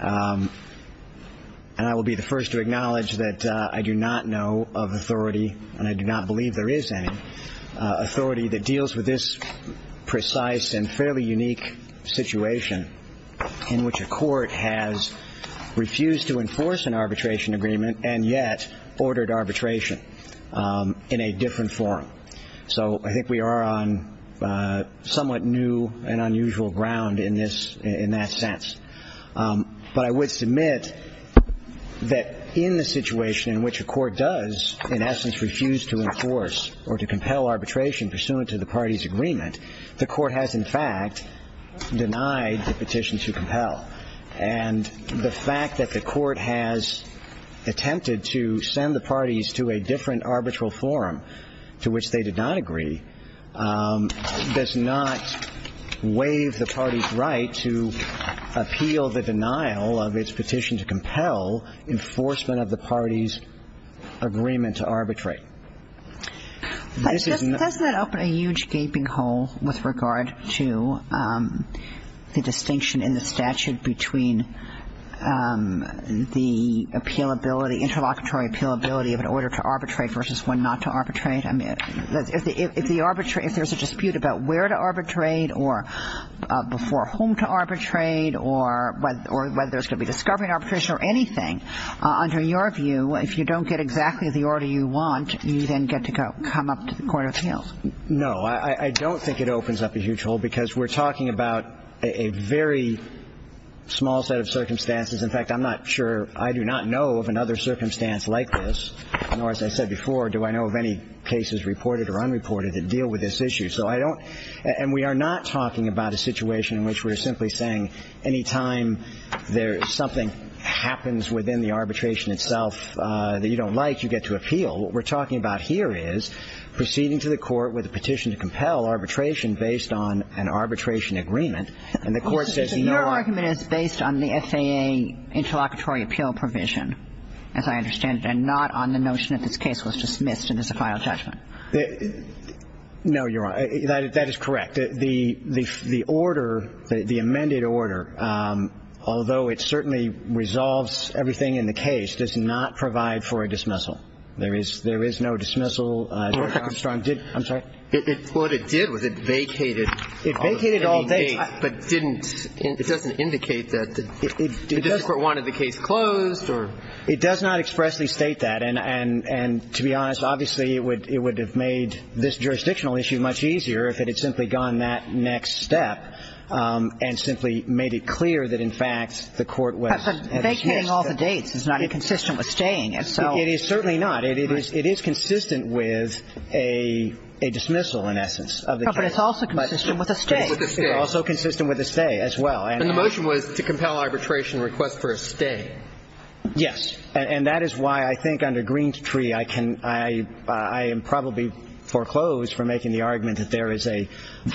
And I will be the first to acknowledge that I do not know of authority, and I do not believe there is any, authority that deals with this precise and fairly unique situation in which a court has refused to enforce an arbitration agreement and yet ordered arbitration in a different form. So I think we are on somewhat new and unusual ground in this, in that sense. But I would submit that in the situation in which a court does in essence refuse to enforce or to compel arbitration pursuant to the party's agreement, the court has in fact denied the petition to compel. And the fact that the court has attempted to send the parties to a different arbitral forum to which they did not agree does not waive the party's right to appeal the denial of its petition to compel enforcement of the party's agreement to arbitrate. Does that open a huge gaping hole with regard to the distinction in the statute between the appealability, interlocutory appealability of an order to arbitrate versus one not to arbitrate? If there is a dispute about where to arbitrate or before whom to arbitrate or whether there is going to be discovery in arbitration or anything, under your view, if you don't get exactly the order you want, you then get to come up to the court of appeals. No. I don't think it opens up a huge hole because we're talking about a very small set of circumstances. In fact, I'm not sure. I do not know of another circumstance like this. Nor, as I said before, do I know of any cases reported or unreported that deal with this issue. So I don't – and we are not talking about a situation in which we're simply saying any time something happens within the arbitration itself that you don't like, you get to appeal. What we're talking about here is proceeding to the court with a petition to compel arbitration based on an arbitration agreement. And the court says no. So your argument is based on the FAA interlocutory appeal provision, as I understand it, and not on the notion that this case was dismissed in this final judgment. No, you're right. That is correct. The order, the amended order, although it certainly resolves everything in the case, does not provide for a dismissal. There is no dismissal. Dr. Armstrong, did – I'm sorry. What it did was it vacated. It vacated all day. But didn't – it doesn't indicate that the district court wanted the case closed or – It does not expressly state that. And to be honest, obviously, it would have made this jurisdictional issue much easier if it had simply gone that next step and simply made it clear that, in fact, the court was – But vacating all the dates is not inconsistent with staying. It is certainly not. It is consistent with a dismissal, in essence, of the case. But it's also consistent with a stay. It's also consistent with a stay as well. And the motion was to compel arbitration request for a stay. Yes. And that is why I think under Green's treaty I can – I am probably foreclosed from making the argument that there is a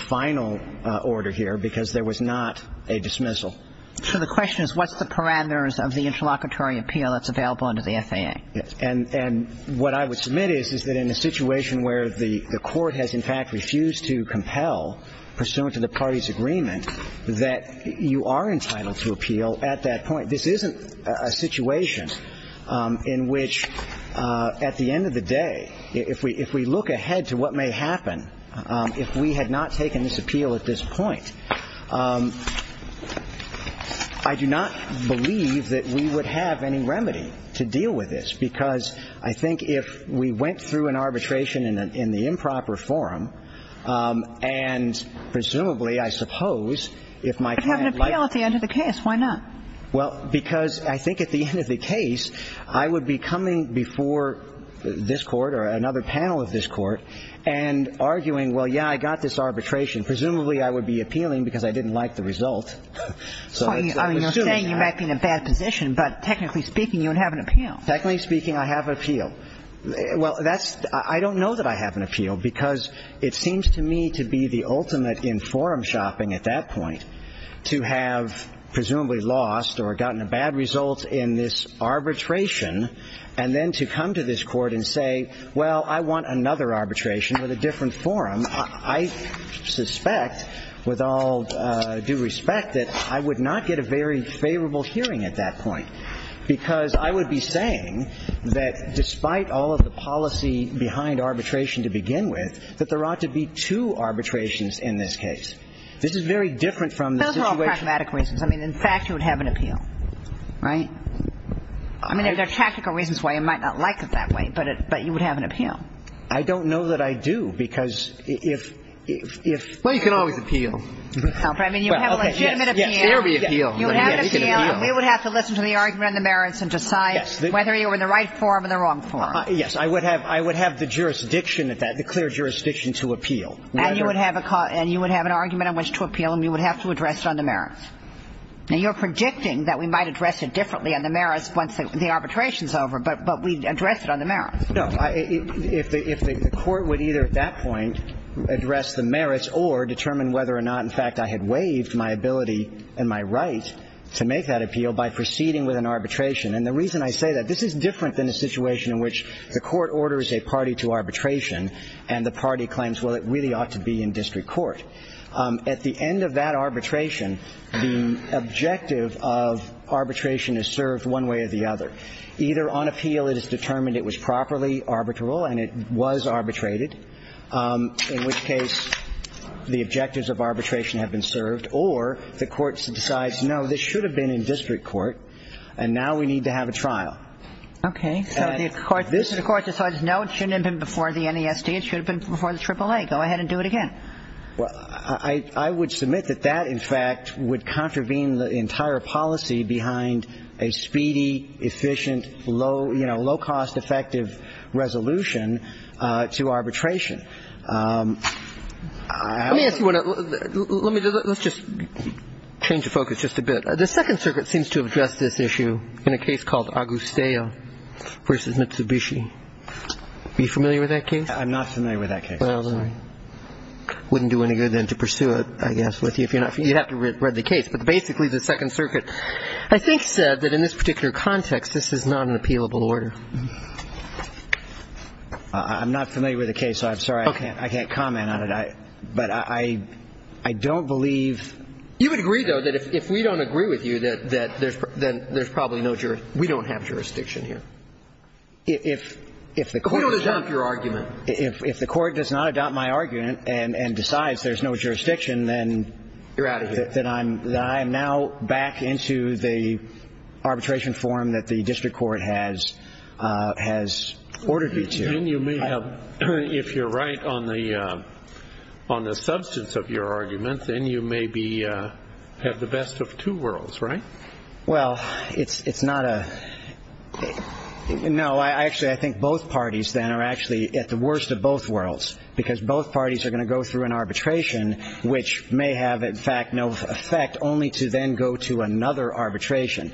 final order here because there was not a dismissal. So the question is what's the parameters of the interlocutory appeal that's available under the FAA? And what I would submit is, is that in a situation where the court has, in fact, refused to compel, pursuant to the party's agreement, that you are entitled to appeal at that point. This isn't a situation in which, at the end of the day, if we look ahead to what may happen if we had not taken this appeal at this point, I do not believe that we would have any remedy to deal with this, because I think if we went through an arbitration in the improper forum, and presumably, I suppose, if my client – But have an appeal at the end of the case. Why not? Well, because I think at the end of the case I would be coming before this court or another panel of this court and arguing, well, yeah, I got this arbitration. Presumably, I would be appealing because I didn't like the result. I mean, you're saying you might be in a bad position, but technically speaking, you would have an appeal. Technically speaking, I have an appeal. Well, that's – I don't know that I have an appeal, because it seems to me to be the ultimate in forum shopping at that point to have presumably lost or gotten a bad result in this arbitration and then to come to this court and say, well, I want another arbitration with a different forum. I suspect, with all due respect, that I would not get a very favorable hearing at that point, because I would be saying that despite all of the policy behind arbitration to begin with, that there ought to be two arbitrations in this case. This is very different from the situation – Those are all pragmatic reasons. I mean, in fact, you would have an appeal, right? I mean, there are tactical reasons why you might not like it that way, but you would have an appeal. I don't know that I do, because if – Well, you can always appeal. I mean, you have a legitimate appeal. Yes, there would be an appeal. You would have an appeal, and you would have to listen to the argument and the merits and decide whether you were in the right forum or the wrong forum. I would have the jurisdiction at that, the clear jurisdiction to appeal. And you would have an argument on which to appeal, and you would have to address it on the merits. Now, you're predicting that we might address it differently on the merits once the arbitration is over, but we'd address it on the merits. No. If the court would either at that point address the merits or determine whether or not, in fact, I had waived my ability and my right to make that appeal by proceeding with an arbitration. And the reason I say that, this is different than a situation in which the court orders a party to arbitration and the party claims, well, it really ought to be in district court. At the end of that arbitration, the objective of arbitration is served one way or the other. Either on appeal it is determined it was properly arbitral and it was arbitrated, in which case the objectives of arbitration have been served, or the court decides, no, this should have been in district court, and now we need to have a trial. Okay. So the court decides, no, it shouldn't have been before the NESD. It should have been before the AAA. Go ahead and do it again. Well, I would submit that that, in fact, would contravene the entire policy behind a speedy, efficient, low-cost, effective resolution to arbitration. Let me ask you one other question. Let's just change the focus just a bit. The Second Circuit seems to have addressed this issue in a case called Agustello v. Mitsubishi. Are you familiar with that case? I'm not familiar with that case. Well, then I wouldn't do any good then to pursue it, I guess, with you if you're not familiar. You'd have to read the case. But basically the Second Circuit I think said that in this particular context this is not an appealable order. I'm not familiar with the case, so I'm sorry I can't comment on it. But I don't believe ---- You would agree, though, that if we don't agree with you, that there's probably no jurisdiction. We don't have jurisdiction here. We don't adopt your argument. If the Court does not adopt my argument and decides there's no jurisdiction, then I'm now back into the arbitration If you're right on the substance of your argument, then you may have the best of two worlds, right? Well, it's not a ---- No. Actually, I think both parties then are actually at the worst of both worlds because both parties are going to go through an arbitration which may have, in fact, no effect, only to then go to another arbitration.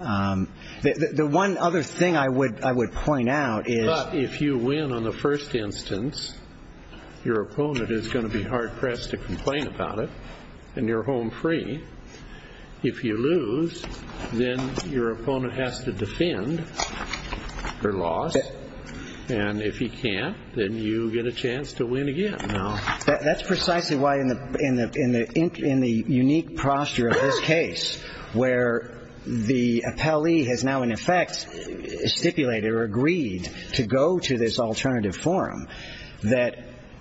The one other thing I would point out is ---- But if you win on the first instance, your opponent is going to be hard-pressed to complain about it, and you're home free. If you lose, then your opponent has to defend their loss. And if he can't, then you get a chance to win again. No. That's precisely why, in the unique posture of this case, where the appellee has now, in effect, stipulated or agreed to go to this alternative forum, that,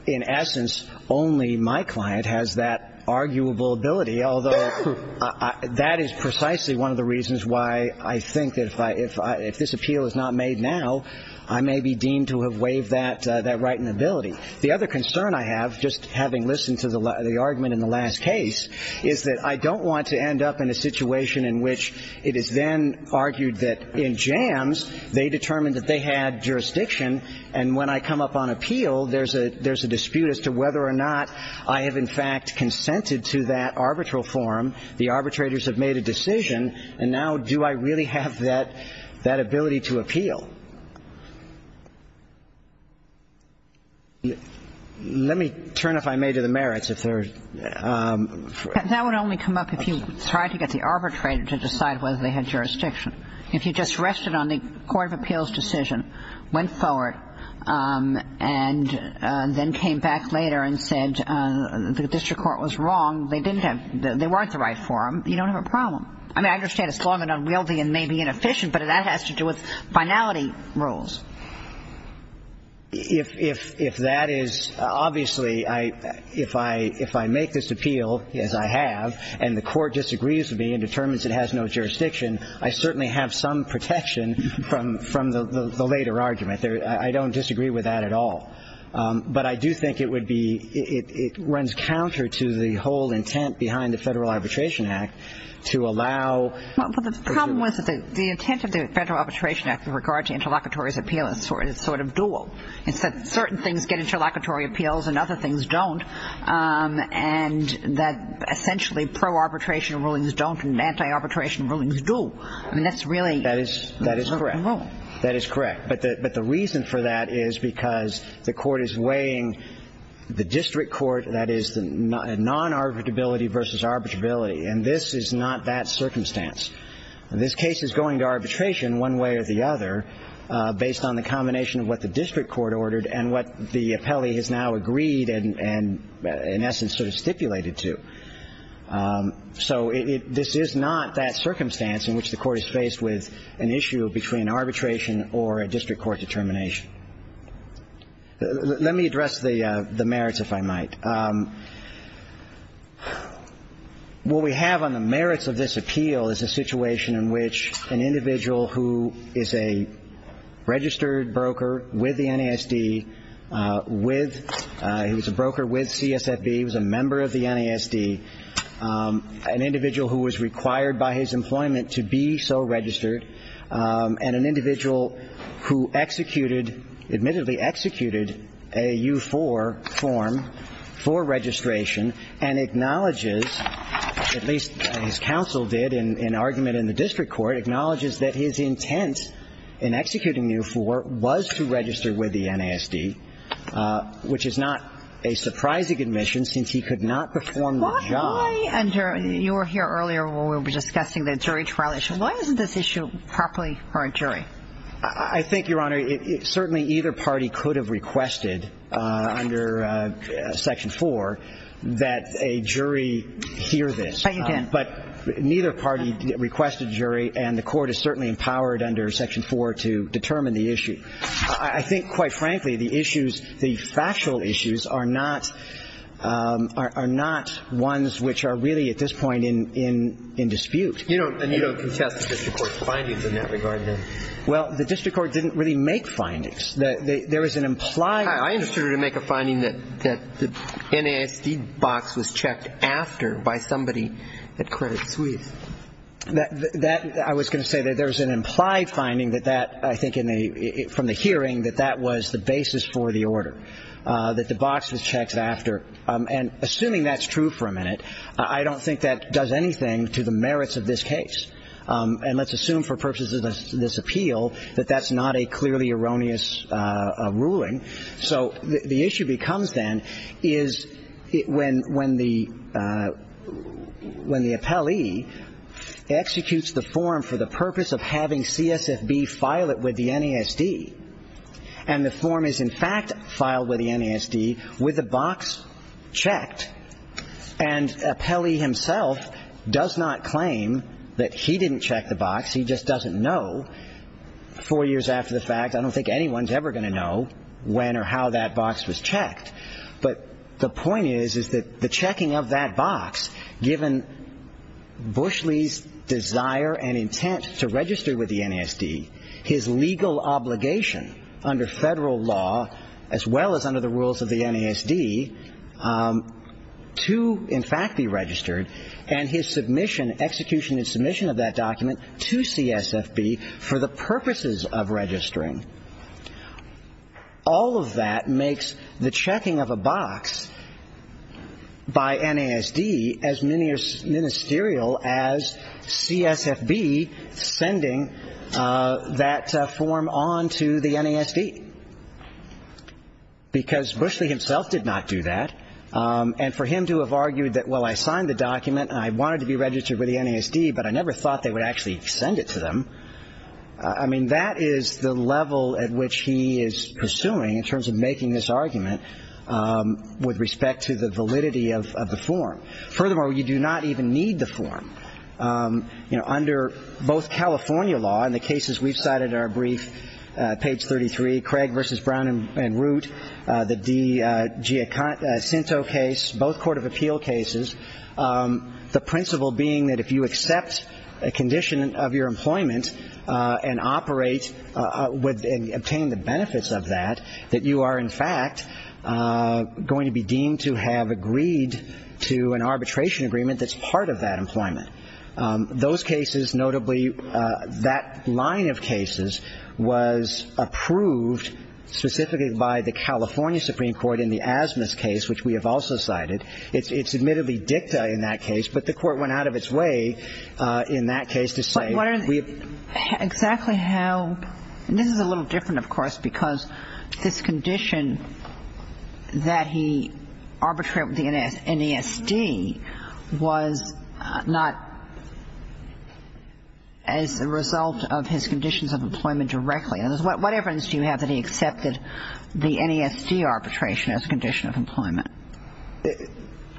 in essence, only my client has that arguable ability, although that is precisely one of the reasons why I think that if this appeal is not made now, I may be deemed to have waived that right and ability. The other concern I have, just having listened to the argument in the last case, is that I don't want to end up in a situation in which it is then argued that in Jams, they determined that they had jurisdiction, and when I come up on appeal, there's a dispute as to whether or not I have, in fact, consented to that arbitral forum. The arbitrators have made a decision, and now do I really have that ability to appeal? Let me turn, if I may, to the merits, if there are ---- That would only come up if you tried to get the arbitrator to decide whether they had jurisdiction. If you just rested on the court of appeals decision, went forward, and then came back later and said the district court was wrong, they didn't have the ---- they weren't the right forum, you don't have a problem. I mean, I understand it's long and unwieldy and may be inefficient, but that has to do with finality rules. If that is, obviously, if I make this appeal, as I have, and the court disagrees with me and determines it has no jurisdiction, I certainly have some protection from the later argument. I don't disagree with that at all. But I do think it would be ---- it runs counter to the whole intent behind the Federal Arbitration Act to allow ---- Well, the problem was that the intent of the Federal Arbitration Act with regard to interlocutory appeal is sort of dual. It's that certain things get interlocutory appeals and other things don't, and that essentially pro-arbitration rulings don't and anti-arbitration rulings do. I mean, that's really ---- That is correct. That is correct. But the reason for that is because the court is weighing the district court, that is, the non-arbitrability versus arbitrability. And this is not that circumstance. This case is going to arbitration one way or the other based on the combination of what the district court ordered and what the appellee has now agreed and, in essence, sort of stipulated to. So this is not that circumstance in which the court is faced with an issue between arbitration or a district court determination. Let me address the merits, if I might. What we have on the merits of this appeal is a situation in which an individual who is a registered broker with the NASD, with ---- he was a broker with CSFB, he was a member of the NASD, an individual who was required by his employment to be so registered, and an individual who executed, admittedly executed, a U4 form for registration and acknowledges, at least his counsel did in argument in the district court, acknowledges that his intent in executing U4 was to register with the NASD, which is not a surprising admission since he could not perform the job. Why under ---- you were here earlier when we were discussing the jury trial issue. Why isn't this issue properly for a jury? I think, Your Honor, certainly either party could have requested under Section 4 that a jury hear this. But neither party requested a jury, and the court is certainly empowered under Section 4 to determine the issue. I think, quite frankly, the issues, the factual issues are not ones which are really at this point in dispute. You don't contest the district court's findings in that regard, then? Well, the district court didn't really make findings. There is an implied ---- I understood it to make a finding that the NASD box was checked after by somebody at Credit Suisse. That ---- I was going to say that there was an implied finding that that, I think, from the hearing, that that was the basis for the order, that the box was checked after. And assuming that's true for a minute, I don't think that does anything to the case. And let's assume for purposes of this appeal that that's not a clearly erroneous ruling. So the issue becomes, then, is when the appellee executes the form for the purpose of having CSFB file it with the NASD, and the form is in fact filed with the NASD with the box checked, and appellee himself does not claim that he didn't check the box. He just doesn't know. Four years after the fact, I don't think anyone's ever going to know when or how that box was checked. But the point is, is that the checking of that box, given Bushley's desire and intent to register with the NASD, his legal obligation under Federal law, as well as under the rules of the NASD, to in fact be registered, and his submission, execution and submission of that document to CSFB for the purposes of registering, all of that makes the checking of a box by NASD as ministerial as CSFB sending that because Bushley himself did not do that. And for him to have argued that, well, I signed the document and I wanted to be registered with the NASD, but I never thought they would actually send it to them, I mean, that is the level at which he is pursuing in terms of making this argument with respect to the validity of the form. Furthermore, you do not even need the form. Under both California law, in the cases we've cited in our brief, page 33, Craig v. Brown and Root, the DiGiacinto case, both court of appeal cases, the principle being that if you accept a condition of your employment and operate and obtain the benefits of that, that you are in fact going to be deemed to have agreed to an arbitration agreement. Those cases, notably that line of cases, was approved specifically by the California Supreme Court in the Asmus case, which we have also cited. It's admittedly dicta in that case, but the court went out of its way in that case to say we have to do that. But what are the – exactly how – and this is a little different, of course, because this condition that he arbitrated with the NESD was not as a result of his conditions of employment directly. What evidence do you have that he accepted the NESD arbitration as a condition of employment?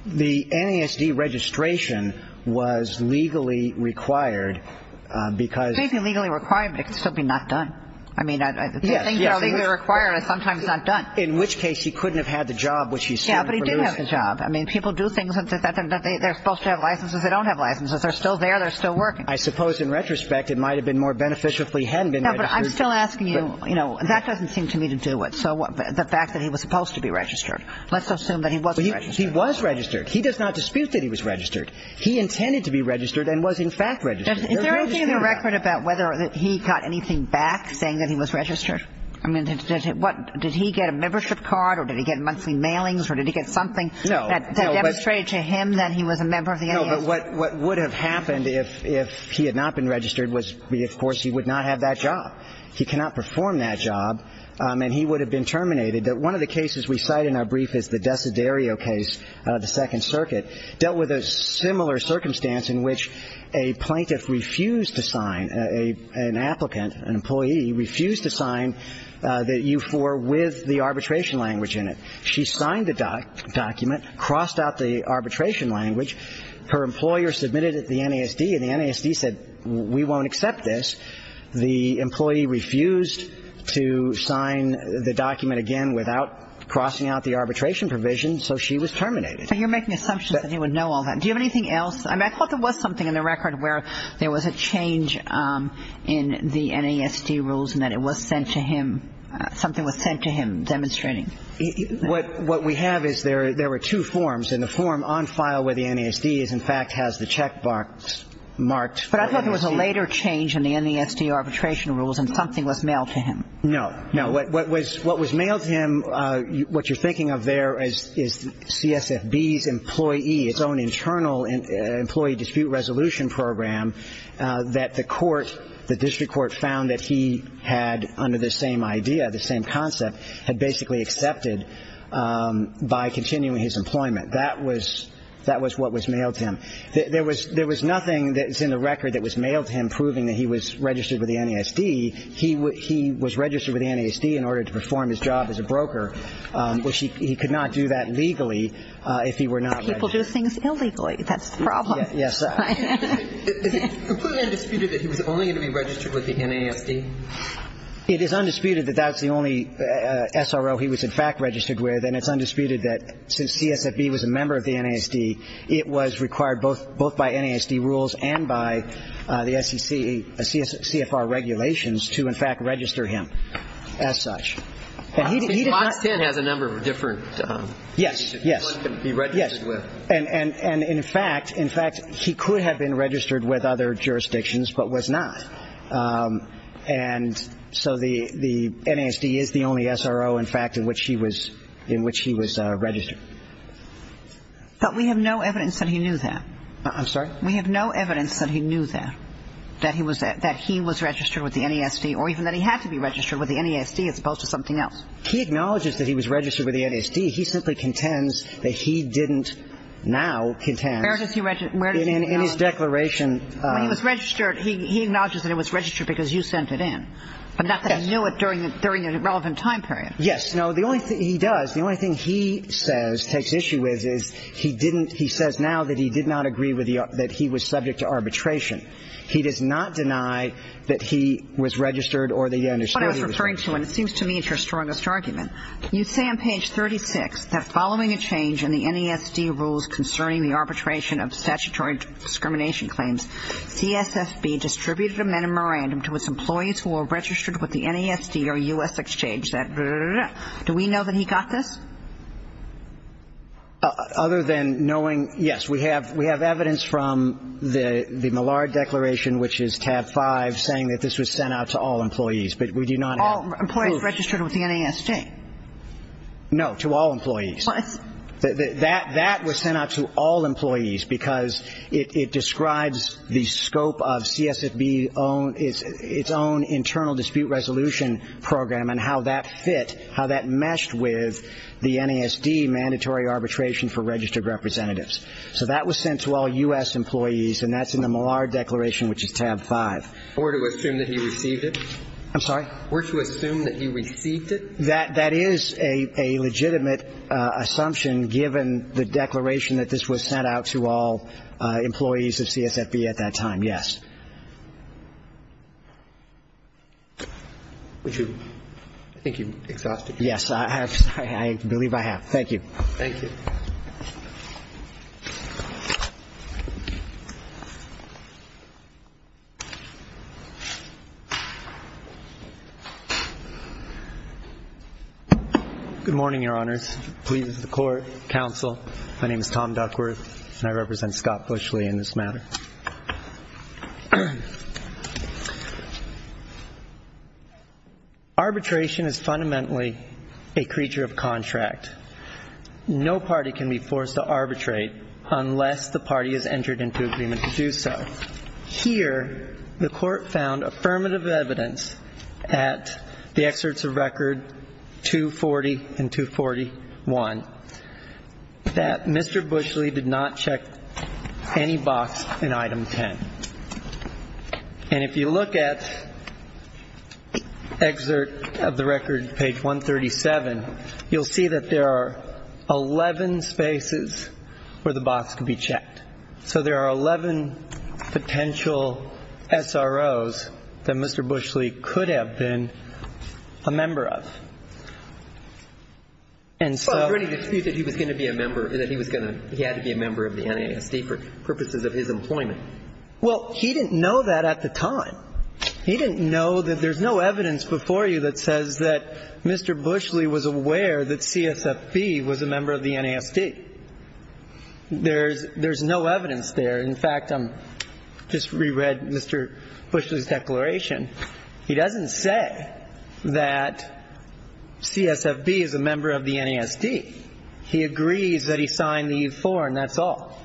The NESD registration was legally required because – It may be legally required, but it could still be not done. I mean – Yes, yes. In which case he couldn't have had the job, which he still did. Yeah, but he did have the job. I mean, people do things that they're supposed to have licenses. They don't have licenses. They're still there. They're still working. I suppose in retrospect it might have been more beneficial if he hadn't been registered. Yeah, but I'm still asking you, you know, that doesn't seem to me to do it. So the fact that he was supposed to be registered, let's assume that he was registered. He was registered. He does not dispute that he was registered. He intended to be registered and was in fact registered. Is there anything in the record about whether he got anything back saying that he was registered? I mean, did he get a membership card or did he get monthly mailings or did he get something that demonstrated to him that he was a member of the NESD? No, but what would have happened if he had not been registered was, of course, he would not have that job. He cannot perform that job, and he would have been terminated. One of the cases we cite in our brief is the Desiderio case, the Second Circuit, dealt with a similar circumstance in which a plaintiff refused to sign, an applicant, an employee refused to sign the U-4 with the arbitration language in it. She signed the document, crossed out the arbitration language. Her employer submitted it to the NESD, and the NESD said, we won't accept this. The employee refused to sign the document again without crossing out the arbitration provision, so she was terminated. So you're making assumptions that he would know all that. Do you have anything else? I mean, I thought there was something in the record where there was a change in the NESD rules and that it was sent to him, something was sent to him demonstrating. What we have is there were two forms, and the form on file with the NESD is, in fact, has the check marked for NESD. But I thought there was a later change in the NESD arbitration rules and something was mailed to him. No. No, what was mailed to him, what you're thinking of there is CSFB's employee, its own internal employee dispute resolution program that the court, the district court, found that he had under the same idea, the same concept, had basically accepted by continuing his employment. That was what was mailed to him. There was nothing that's in the record that was mailed to him proving that he was registered with the NESD. He was registered with the NESD in order to perform his job as a broker, which he could not do that legally if he were not registered. People do things illegally. That's the problem. Yes. Is it completely undisputed that he was only going to be registered with the NESD? It is undisputed that that's the only SRO he was, in fact, registered with, and it's undisputed that since CSFB was a member of the NESD, it was required both by NESD rules and by the SEC, CFR regulations to, in fact, register him as such. And he did not. He has a number of different. Yes. Yes. Yes. And, in fact, he could have been registered with other jurisdictions but was not. And so the NESD is the only SRO, in fact, in which he was registered. But we have no evidence that he knew that. I'm sorry? We have no evidence that he knew that, that he was registered with the NESD or even that he had to be registered with the NESD as opposed to something else. He acknowledges that he was registered with the NESD. He simply contends that he didn't now contend. Where does he acknowledge that? In his declaration. Well, he was registered. He acknowledges that it was registered because you sent it in. Yes. But not that he knew it during a relevant time period. Yes. No, the only thing he does, the only thing he says, takes issue with, is he says now that he did not agree that he was subject to arbitration. He does not deny that he was registered or that he understood he was registered. What I was referring to, and it seems to me it's your strongest argument, you say on page 36 that following a change in the NESD rules concerning the arbitration of statutory discrimination claims, CSSB distributed a memorandum to its employees who were registered with the NESD or U.S. Exchange that blah, blah, blah. Do we know that he got this? Other than knowing, yes. We have evidence from the Millard Declaration, which is tab 5, saying that this was sent out to all employees, but we do not have proof. All employees registered with the NESD. No, to all employees. What? That was sent out to all employees because it describes the scope of CSSB's own, internal dispute resolution program and how that fit, how that meshed with the NESD mandatory arbitration for registered representatives. So that was sent to all U.S. employees, and that's in the Millard Declaration, which is tab 5. Or to assume that he received it? I'm sorry? Or to assume that he received it? That is a legitimate assumption, given the declaration that this was sent out to all employees of CSSB at that time, yes. I think you've exhausted your time. Yes, I have. I believe I have. Thank you. Thank you. Good morning, Your Honors. Please, the Court, Counsel. My name is Tom Duckworth, and I represent Scott Bushley in this matter. Arbitration is fundamentally a creature of contract. No party can be forced to arbitrate unless the party has entered into agreement to do so. Here, the Court found affirmative evidence at the excerpts of Record 240 and 241 that Mr. Bushley did not check any box in Item 10. And if you look at excerpt of the Record, page 137, you'll see that there are 11 spaces where the box can be checked. So there are 11 potential SROs that Mr. Bushley could have been a member of. And so he had to be a member of the NASD for purposes of his employment. Well, he didn't know that at the time. He didn't know that there's no evidence before you that says that Mr. Bushley was aware that CSSB was a member of the NASD. There's no evidence there. In fact, I just reread Mr. Bushley's declaration. He doesn't say that CSSB is a member of the NASD. He agrees that he signed the E-4, and that's all.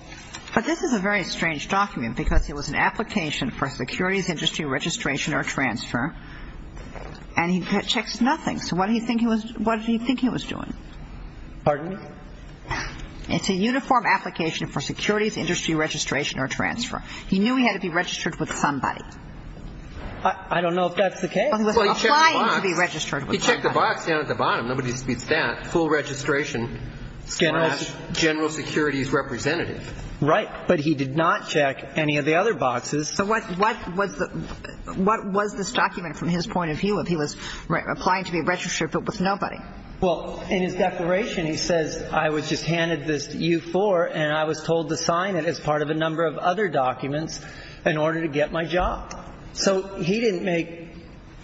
But this is a very strange document, because it was an application for securities industry registration or transfer, and he checks nothing. So what did he think he was doing? Pardon? It's a uniform application for securities industry registration or transfer. He knew he had to be registered with somebody. I don't know if that's the case. Well, he was applying to be registered with somebody. He checked the box down at the bottom. Nobody speaks to that. Full registration. General securities representative. Right. But he did not check any of the other boxes. So what was this document from his point of view if he was applying to be registered with nobody? Well, in his declaration, he says, I was just handed this E-4, and I was told to sign it as part of a number of other documents in order to get my job. So he didn't make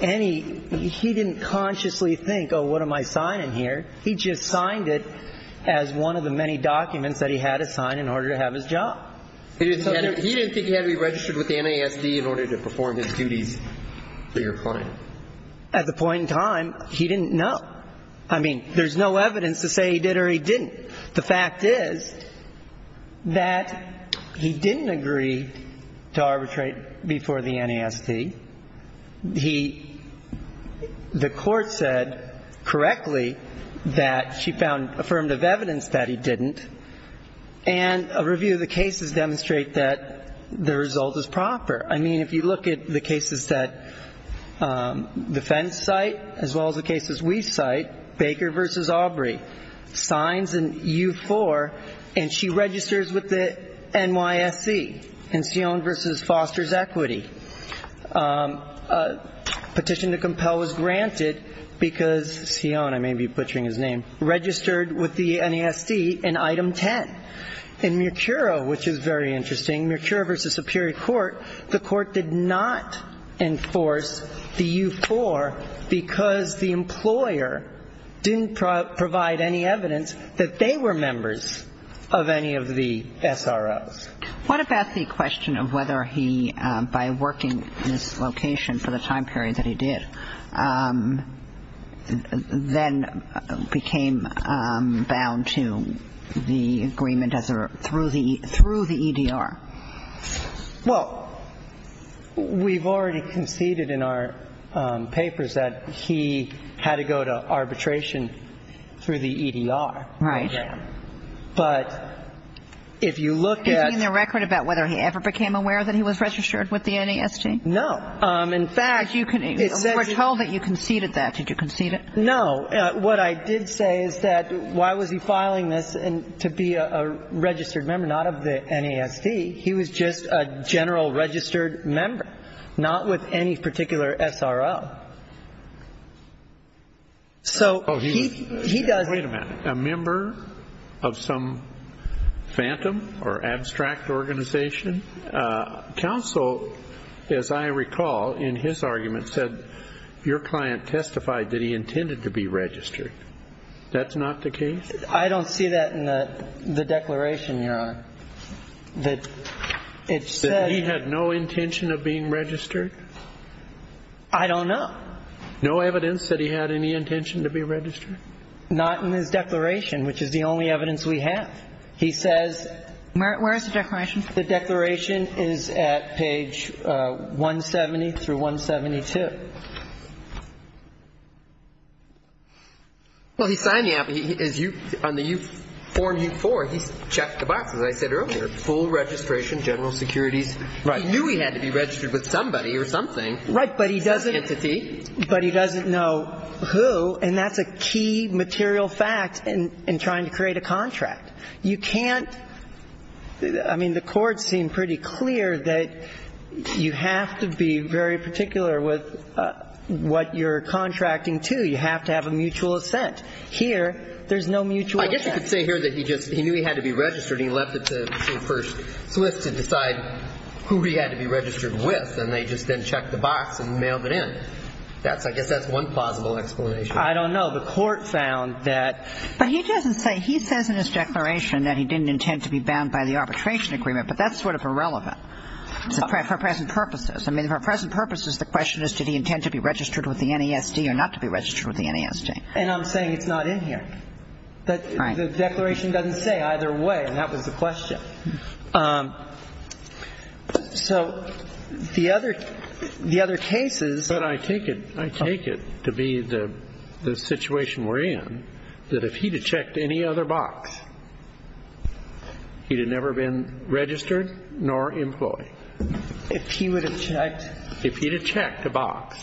any ñ he didn't consciously think, oh, what am I signing here? He just signed it as one of the many documents that he had to sign in order to have his job. He didn't think he had to be registered with the NASD in order to perform his duties for your client? At the point in time, he didn't know. I mean, there's no evidence to say he did or he didn't. The fact is that he didn't agree to arbitrate before the NASD. He ñ the court said correctly that she found affirmative evidence that he didn't, and a review of the cases demonstrate that the result is proper. I mean, if you look at the cases that defense cite as well as the cases we cite, Baker v. Aubrey signs an E-4, and she registers with the NYSC in Sione v. Foster's Equity. Petition to compel was granted because Sione, I may be butchering his name, registered with the NASD in Item 10. In Mercuro, which is very interesting, Mercuro v. Superior Court, the court did not enforce the E-4 because the employer didn't provide any evidence that they were members of any of the SROs. What about the question of whether he, by working this location for the time period that he did, then became bound to the agreement as a ñ through the EDR? Well, we've already conceded in our papers that he had to go to arbitration through the EDR. Right. But if you look at ñ Do you mean the record about whether he ever became aware that he was registered with the NASD? No. In fact, it says ñ But you can ñ we're told that you conceded that. Did you concede it? No. What I did say is that why was he filing this to be a registered member, not of the NASD? He was just a general registered member, not with any particular SRO. So he does ñ I don't see that in the declaration, Your Honor, that it says ñ That he had no intention of being registered? I don't know. No evidence that he had any intention to be registered? Not in his declaration, which is the only evidence we have. He says ñ Where is the declaration? The declaration is at page 178. 178 through 172. Well, he's signing up. On the U4, he's checked the box, as I said earlier. Full registration, general securities. Right. He knew he had to be registered with somebody or something. Right. But he doesn't ñ Entity. But he doesn't know who, and that's a key material fact in trying to create a contract. You can't ñ I mean, the courts seem pretty clear that you have to be very particular with what you're contracting to. You have to have a mutual assent. Here, there's no mutual assent. I guess you could say here that he just ñ he knew he had to be registered, and he left it to First Swiss to decide who he had to be registered with, and they just then checked the box and mailed it in. That's ñ I guess that's one plausible explanation. I don't know. The court found that ñ But he doesn't say ñ he says in his declaration that he didn't intend to be bound by the arbitration agreement, but that's sort of irrelevant for present purposes. I mean, for present purposes, the question is did he intend to be registered with the NASD or not to be registered with the NASD. And I'm saying it's not in here. Right. The declaration doesn't say either way, and that was the question. So the other cases ñ But I take it ñ I take it to be the situation we're in, that if he'd have checked any other box, he'd have never been registered nor employed. If he would have checked ñ If he'd have checked a box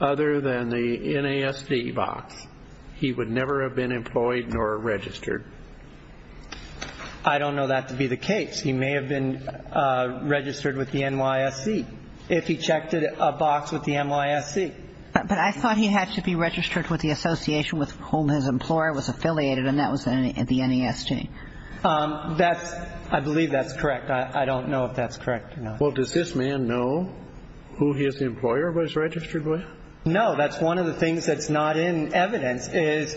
other than the NASD box, he would never have been employed nor registered. I don't know that to be the case. He may have been registered with the NYSC. If he checked a box with the NYSC. But I thought he had to be registered with the association with whom his employer was affiliated, and that was the NASD. That's ñ I believe that's correct. I don't know if that's correct or not. Well, does this man know who his employer was registered with? No. That's one of the things that's not in evidence, is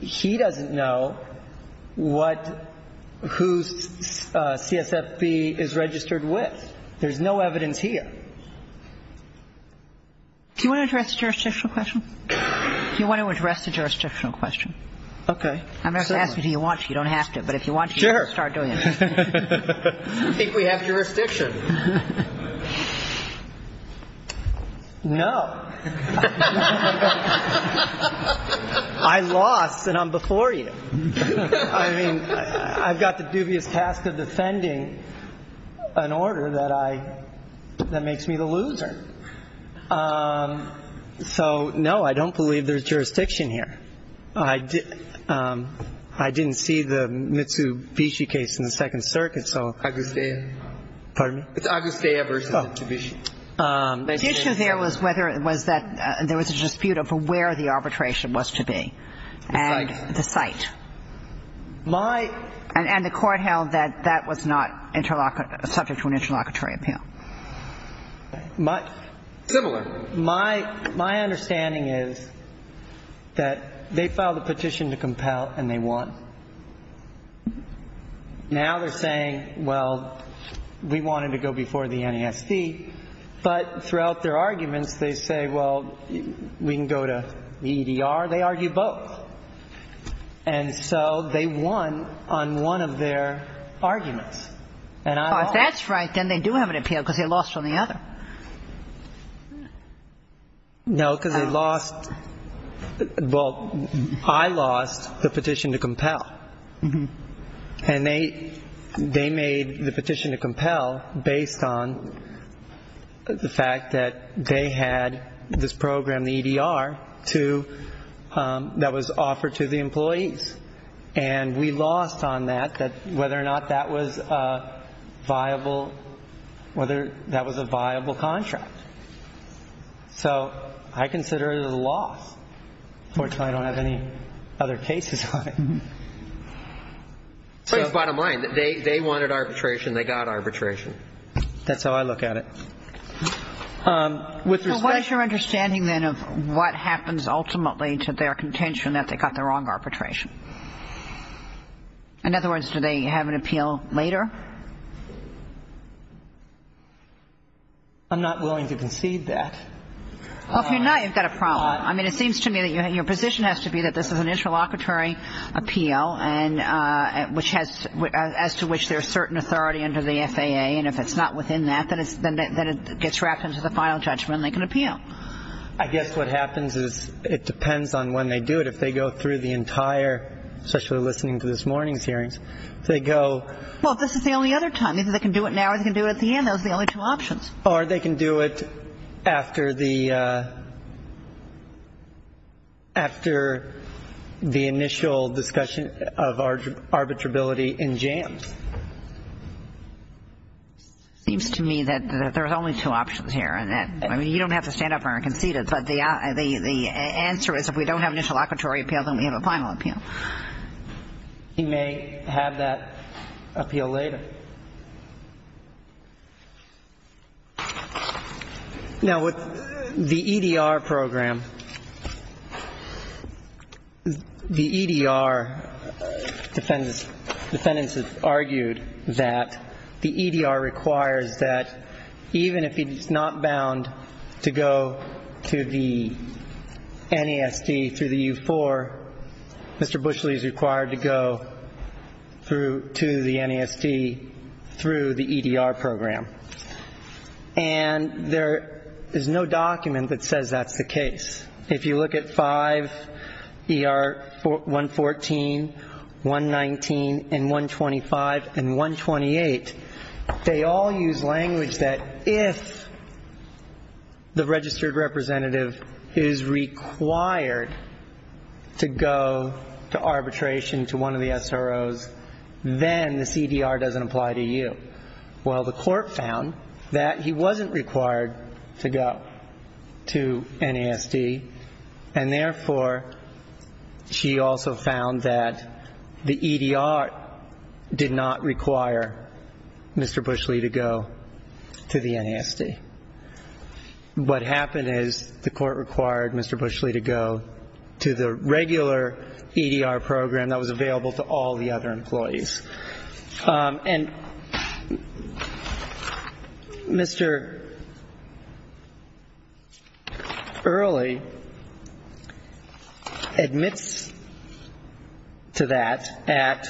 he doesn't know what ñ whose CSFB is registered with. There's no evidence here. Do you want to address the jurisdictional question? Do you want to address the jurisdictional question? Okay. I'm not going to ask you if you want to. You don't have to. But if you want to, you can start doing it. Sure. I think we have jurisdiction. No. I lost, and I'm before you. I mean, I've got the dubious task of defending an order that I ñ that makes me the loser. So, no, I don't believe there's jurisdiction here. I didn't see the Mitsubishi case in the Second Circuit, so. Agustea. Pardon me? It's Agustea versus Mitsubishi. The issue there was whether ñ was that there was a dispute over where the arbitration was to be. The site. My ñ And the court held that that was not interlock ñ subject to an interlocutory appeal. My ñ Similar. My understanding is that they filed a petition to compel, and they won. Now they're saying, well, we wanted to go before the NESC. But throughout their arguments, they say, well, we can go to the EDR. They argue both. And so they won on one of their arguments. And I lost. Well, if that's right, then they do have an appeal because they lost on the other. No, because they lost ñ well, I lost the petition to compel. And they made the petition to compel based on the fact that they had this program, that was offered to the employees. And we lost on that, whether or not that was a viable ñ whether that was a viable contract. So I consider it a loss. Unfortunately, I don't have any other cases on it. So ñ But it's bottom line. They wanted arbitration. They got arbitration. That's how I look at it. With respect ñ But what is your understanding, then, of what happens ultimately to their contention that they got the wrong arbitration? In other words, do they have an appeal later? I'm not willing to concede that. Well, if you're not, you've got a problem. I mean, it seems to me that your position has to be that this is an interlocutory appeal and ñ which has ñ as to which there's certain authority under the FAA. And if it's not within that, then it's ñ then it gets wrapped into the final judgment and they can appeal. I guess what happens is it depends on when they do it. If they go through the entire ñ especially listening to this morning's hearings. If they go ñ Well, if this is the only other time. Either they can do it now or they can do it at the end. Those are the only two options. Or they can do it after the ñ after the initial discussion of arbitrability in jams. It seems to me that there's only two options here. And that ñ I mean, you don't have to stand up and concede it. But the answer is if we don't have an interlocutory appeal, then we have a final appeal. He may have that appeal later. Now, with the EDR program, the EDR defendants have argued that the EDR requires that even if it's not bound to go to the NASD through the U4, Mr. Bushley is required to go through ñ to the NASD through the EDR program. And there is no document that says that's the case. If you look at 5 ER 114, 119, and 125, and 128, they all use language that if the registered representative is required to go to arbitration to one of the SROs, then the CDR doesn't apply to you. Well, the court found that he wasn't required to go to NASD. And therefore, she also found that the EDR did not require Mr. Bushley to go to the NASD. What happened is the court required Mr. Bushley to go to the regular EDR program that was available to all the other employees. And Mr. Early admits to that at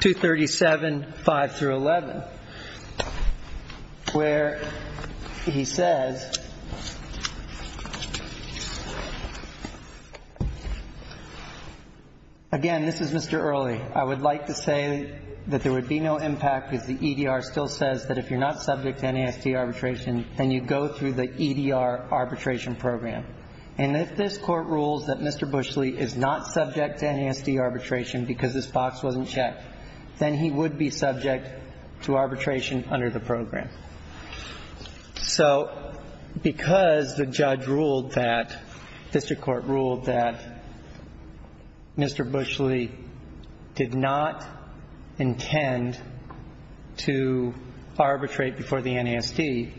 237, 5 through 11, where he says, again, this is Mr. Early. I would like to say that there would be no impact if the EDR still says that if you're not subject to NASD arbitration, then you go through the EDR arbitration program. And if this Court rules that Mr. Bushley is not subject to NASD arbitration because this box wasn't checked, then he would be subject to arbitration under the program. So because the judge ruled that, district court ruled that Mr. Bushley did not intend to arbitrate before the NASD,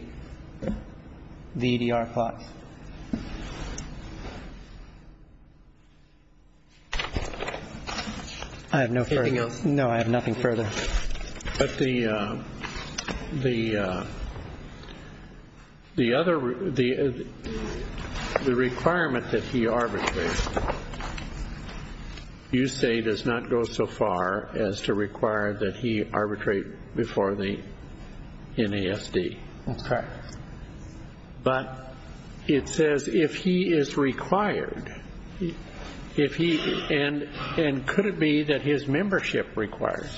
the EDR box. I have no further. Anything else? No, I have nothing further. But the requirement that he arbitrate, you say does not go so far as to require that he arbitrate before the NASD. Okay. But it says if he is required, and could it be that his membership requires?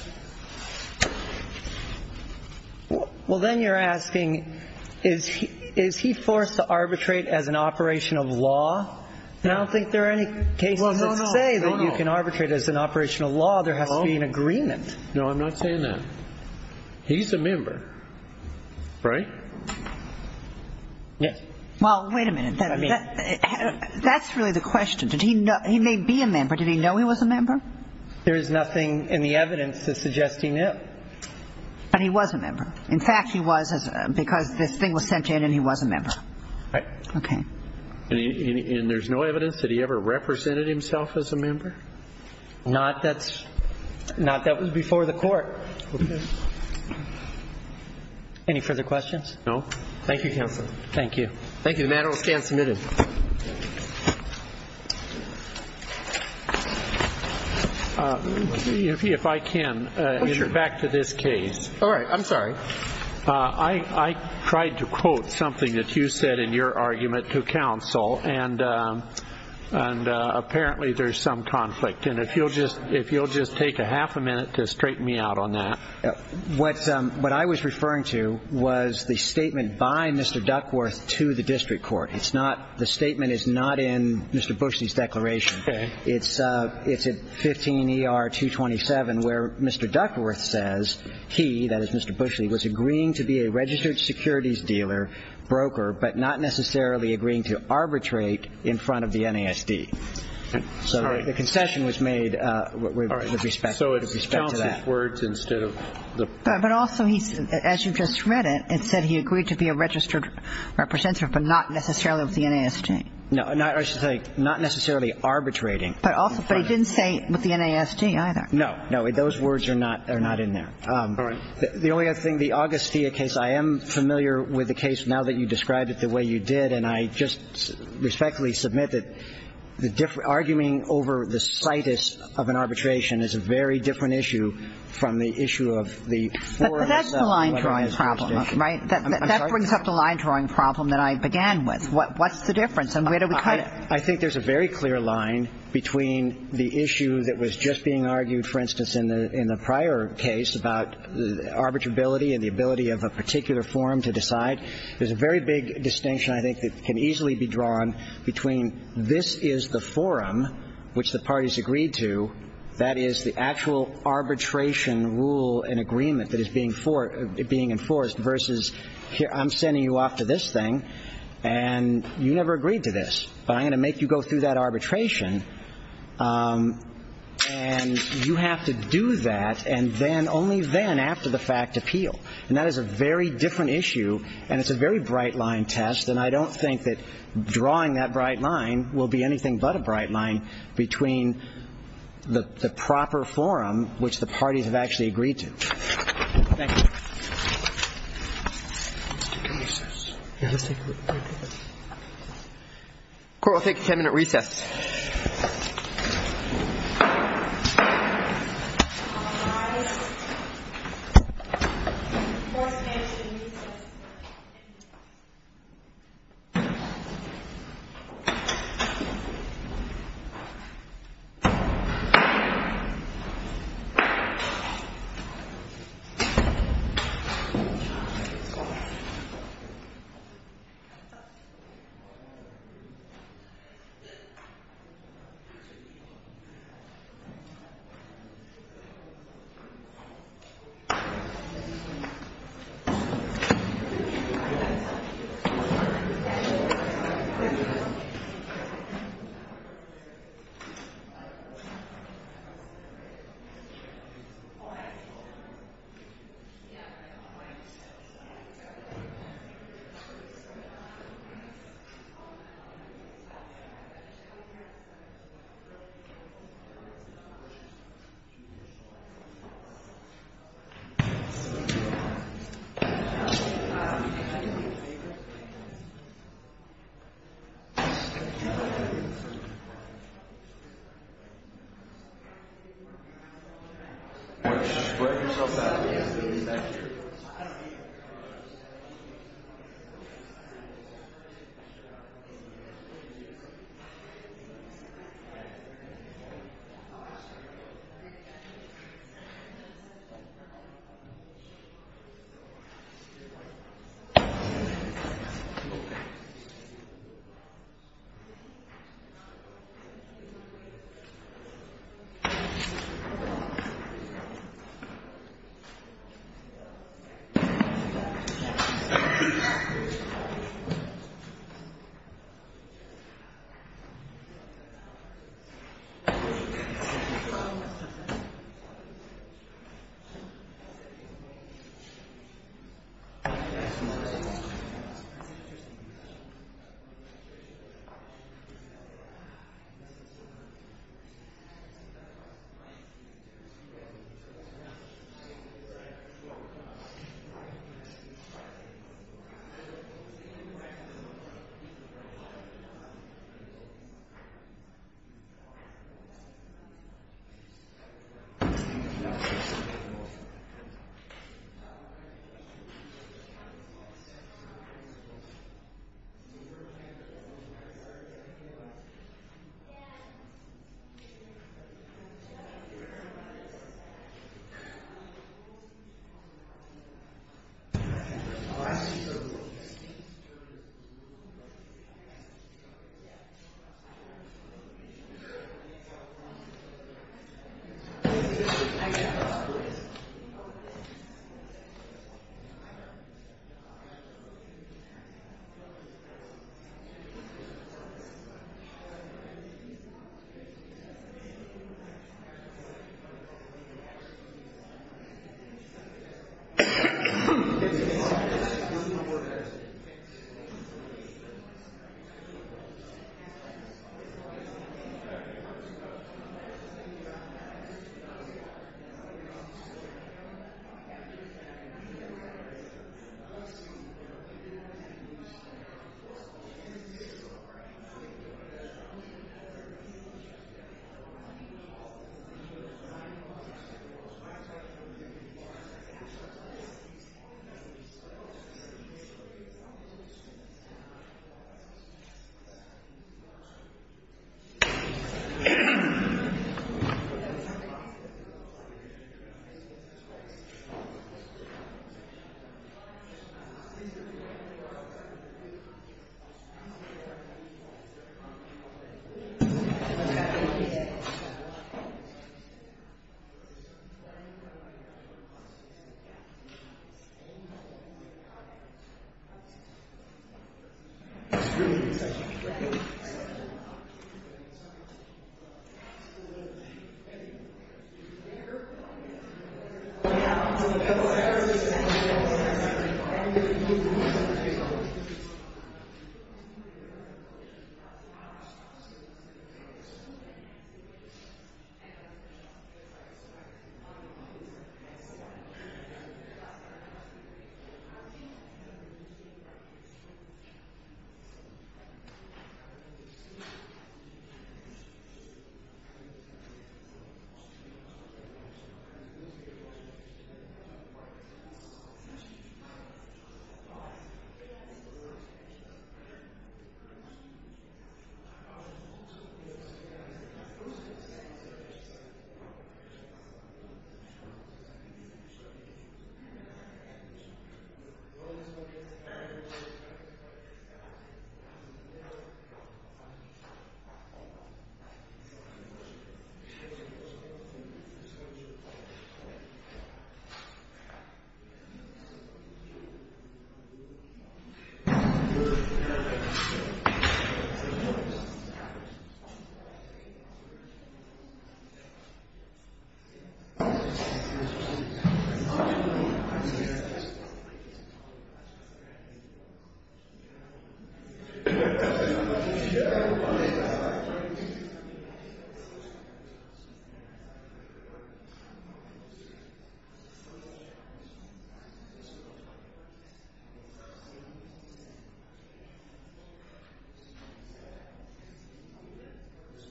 Well, then you're asking, is he forced to arbitrate as an operation of law? I don't think there are any cases that say that you can arbitrate as an operation of law. There has to be an agreement. No, I'm not saying that. He's a member, right? Yes. Well, wait a minute. That's really the question. He may be a member. Did he know he was a member? There is nothing in the evidence that suggests he knew. But he was a member. In fact, he was because this thing was sent in and he was a member. Right. Okay. And there's no evidence that he ever represented himself as a member? Not that's before the court. Okay. Any further questions? No. Thank you, counsel. Thank you. Thank you. The matter will stand submitted. If I can, back to this case. All right. I'm sorry. I tried to quote something that you said in your argument to counsel, and apparently there's some conflict. And if you'll just take a half a minute to straighten me out on that. What I was referring to was the statement by Mr. Duckworth to the district court. The statement is not in Mr. Bushley's declaration. Okay. It's at 15 ER 227 where Mr. Duckworth says he, that is Mr. Bushley, was agreeing to be a registered securities dealer, broker, but not necessarily agreeing to arbitrate in front of the NASD. Sorry. The concession was made with respect to that. All right. So it's counsel's words instead of the. But also, as you just read it, it said he agreed to be a registered representative but not necessarily with the NASD. No. I should say not necessarily arbitrating. But he didn't say with the NASD either. No. No. Those words are not in there. All right. The only other thing, the Augustia case, I am familiar with the case now that you described it the way you did, and I just respectfully submit that the argument over the situs of an arbitration is a very different issue from the issue of the. But that's the line drawing problem, right? That brings up the line drawing problem that I began with. What's the difference? And where do we cut it? I think there's a very clear line between the issue that was just being argued, for instance, in the prior case about arbitrability and the ability of a particular forum to decide. There's a very big distinction I think that can easily be drawn between this is the forum which the parties agreed to, that is the actual arbitration rule and agreement that is being enforced versus I'm sending you off to this thing and you never agreed to this. But I'm going to make you go through that arbitration, and you have to do that, and then, only then, after the fact, appeal. And that is a very different issue, and it's a very bright line test, and I don't think that drawing that bright line will be anything but a bright line between the proper forum which the parties have actually agreed to. Thank you. Let's take a recess. Yeah, let's take a break. Court will take a ten-minute recess. Thank you. Thank you. Thank you. Thank you. Thank you. Thank you. Thank you. Thank you. Thank you. Thank you. Thank you. Thank you. Thank you.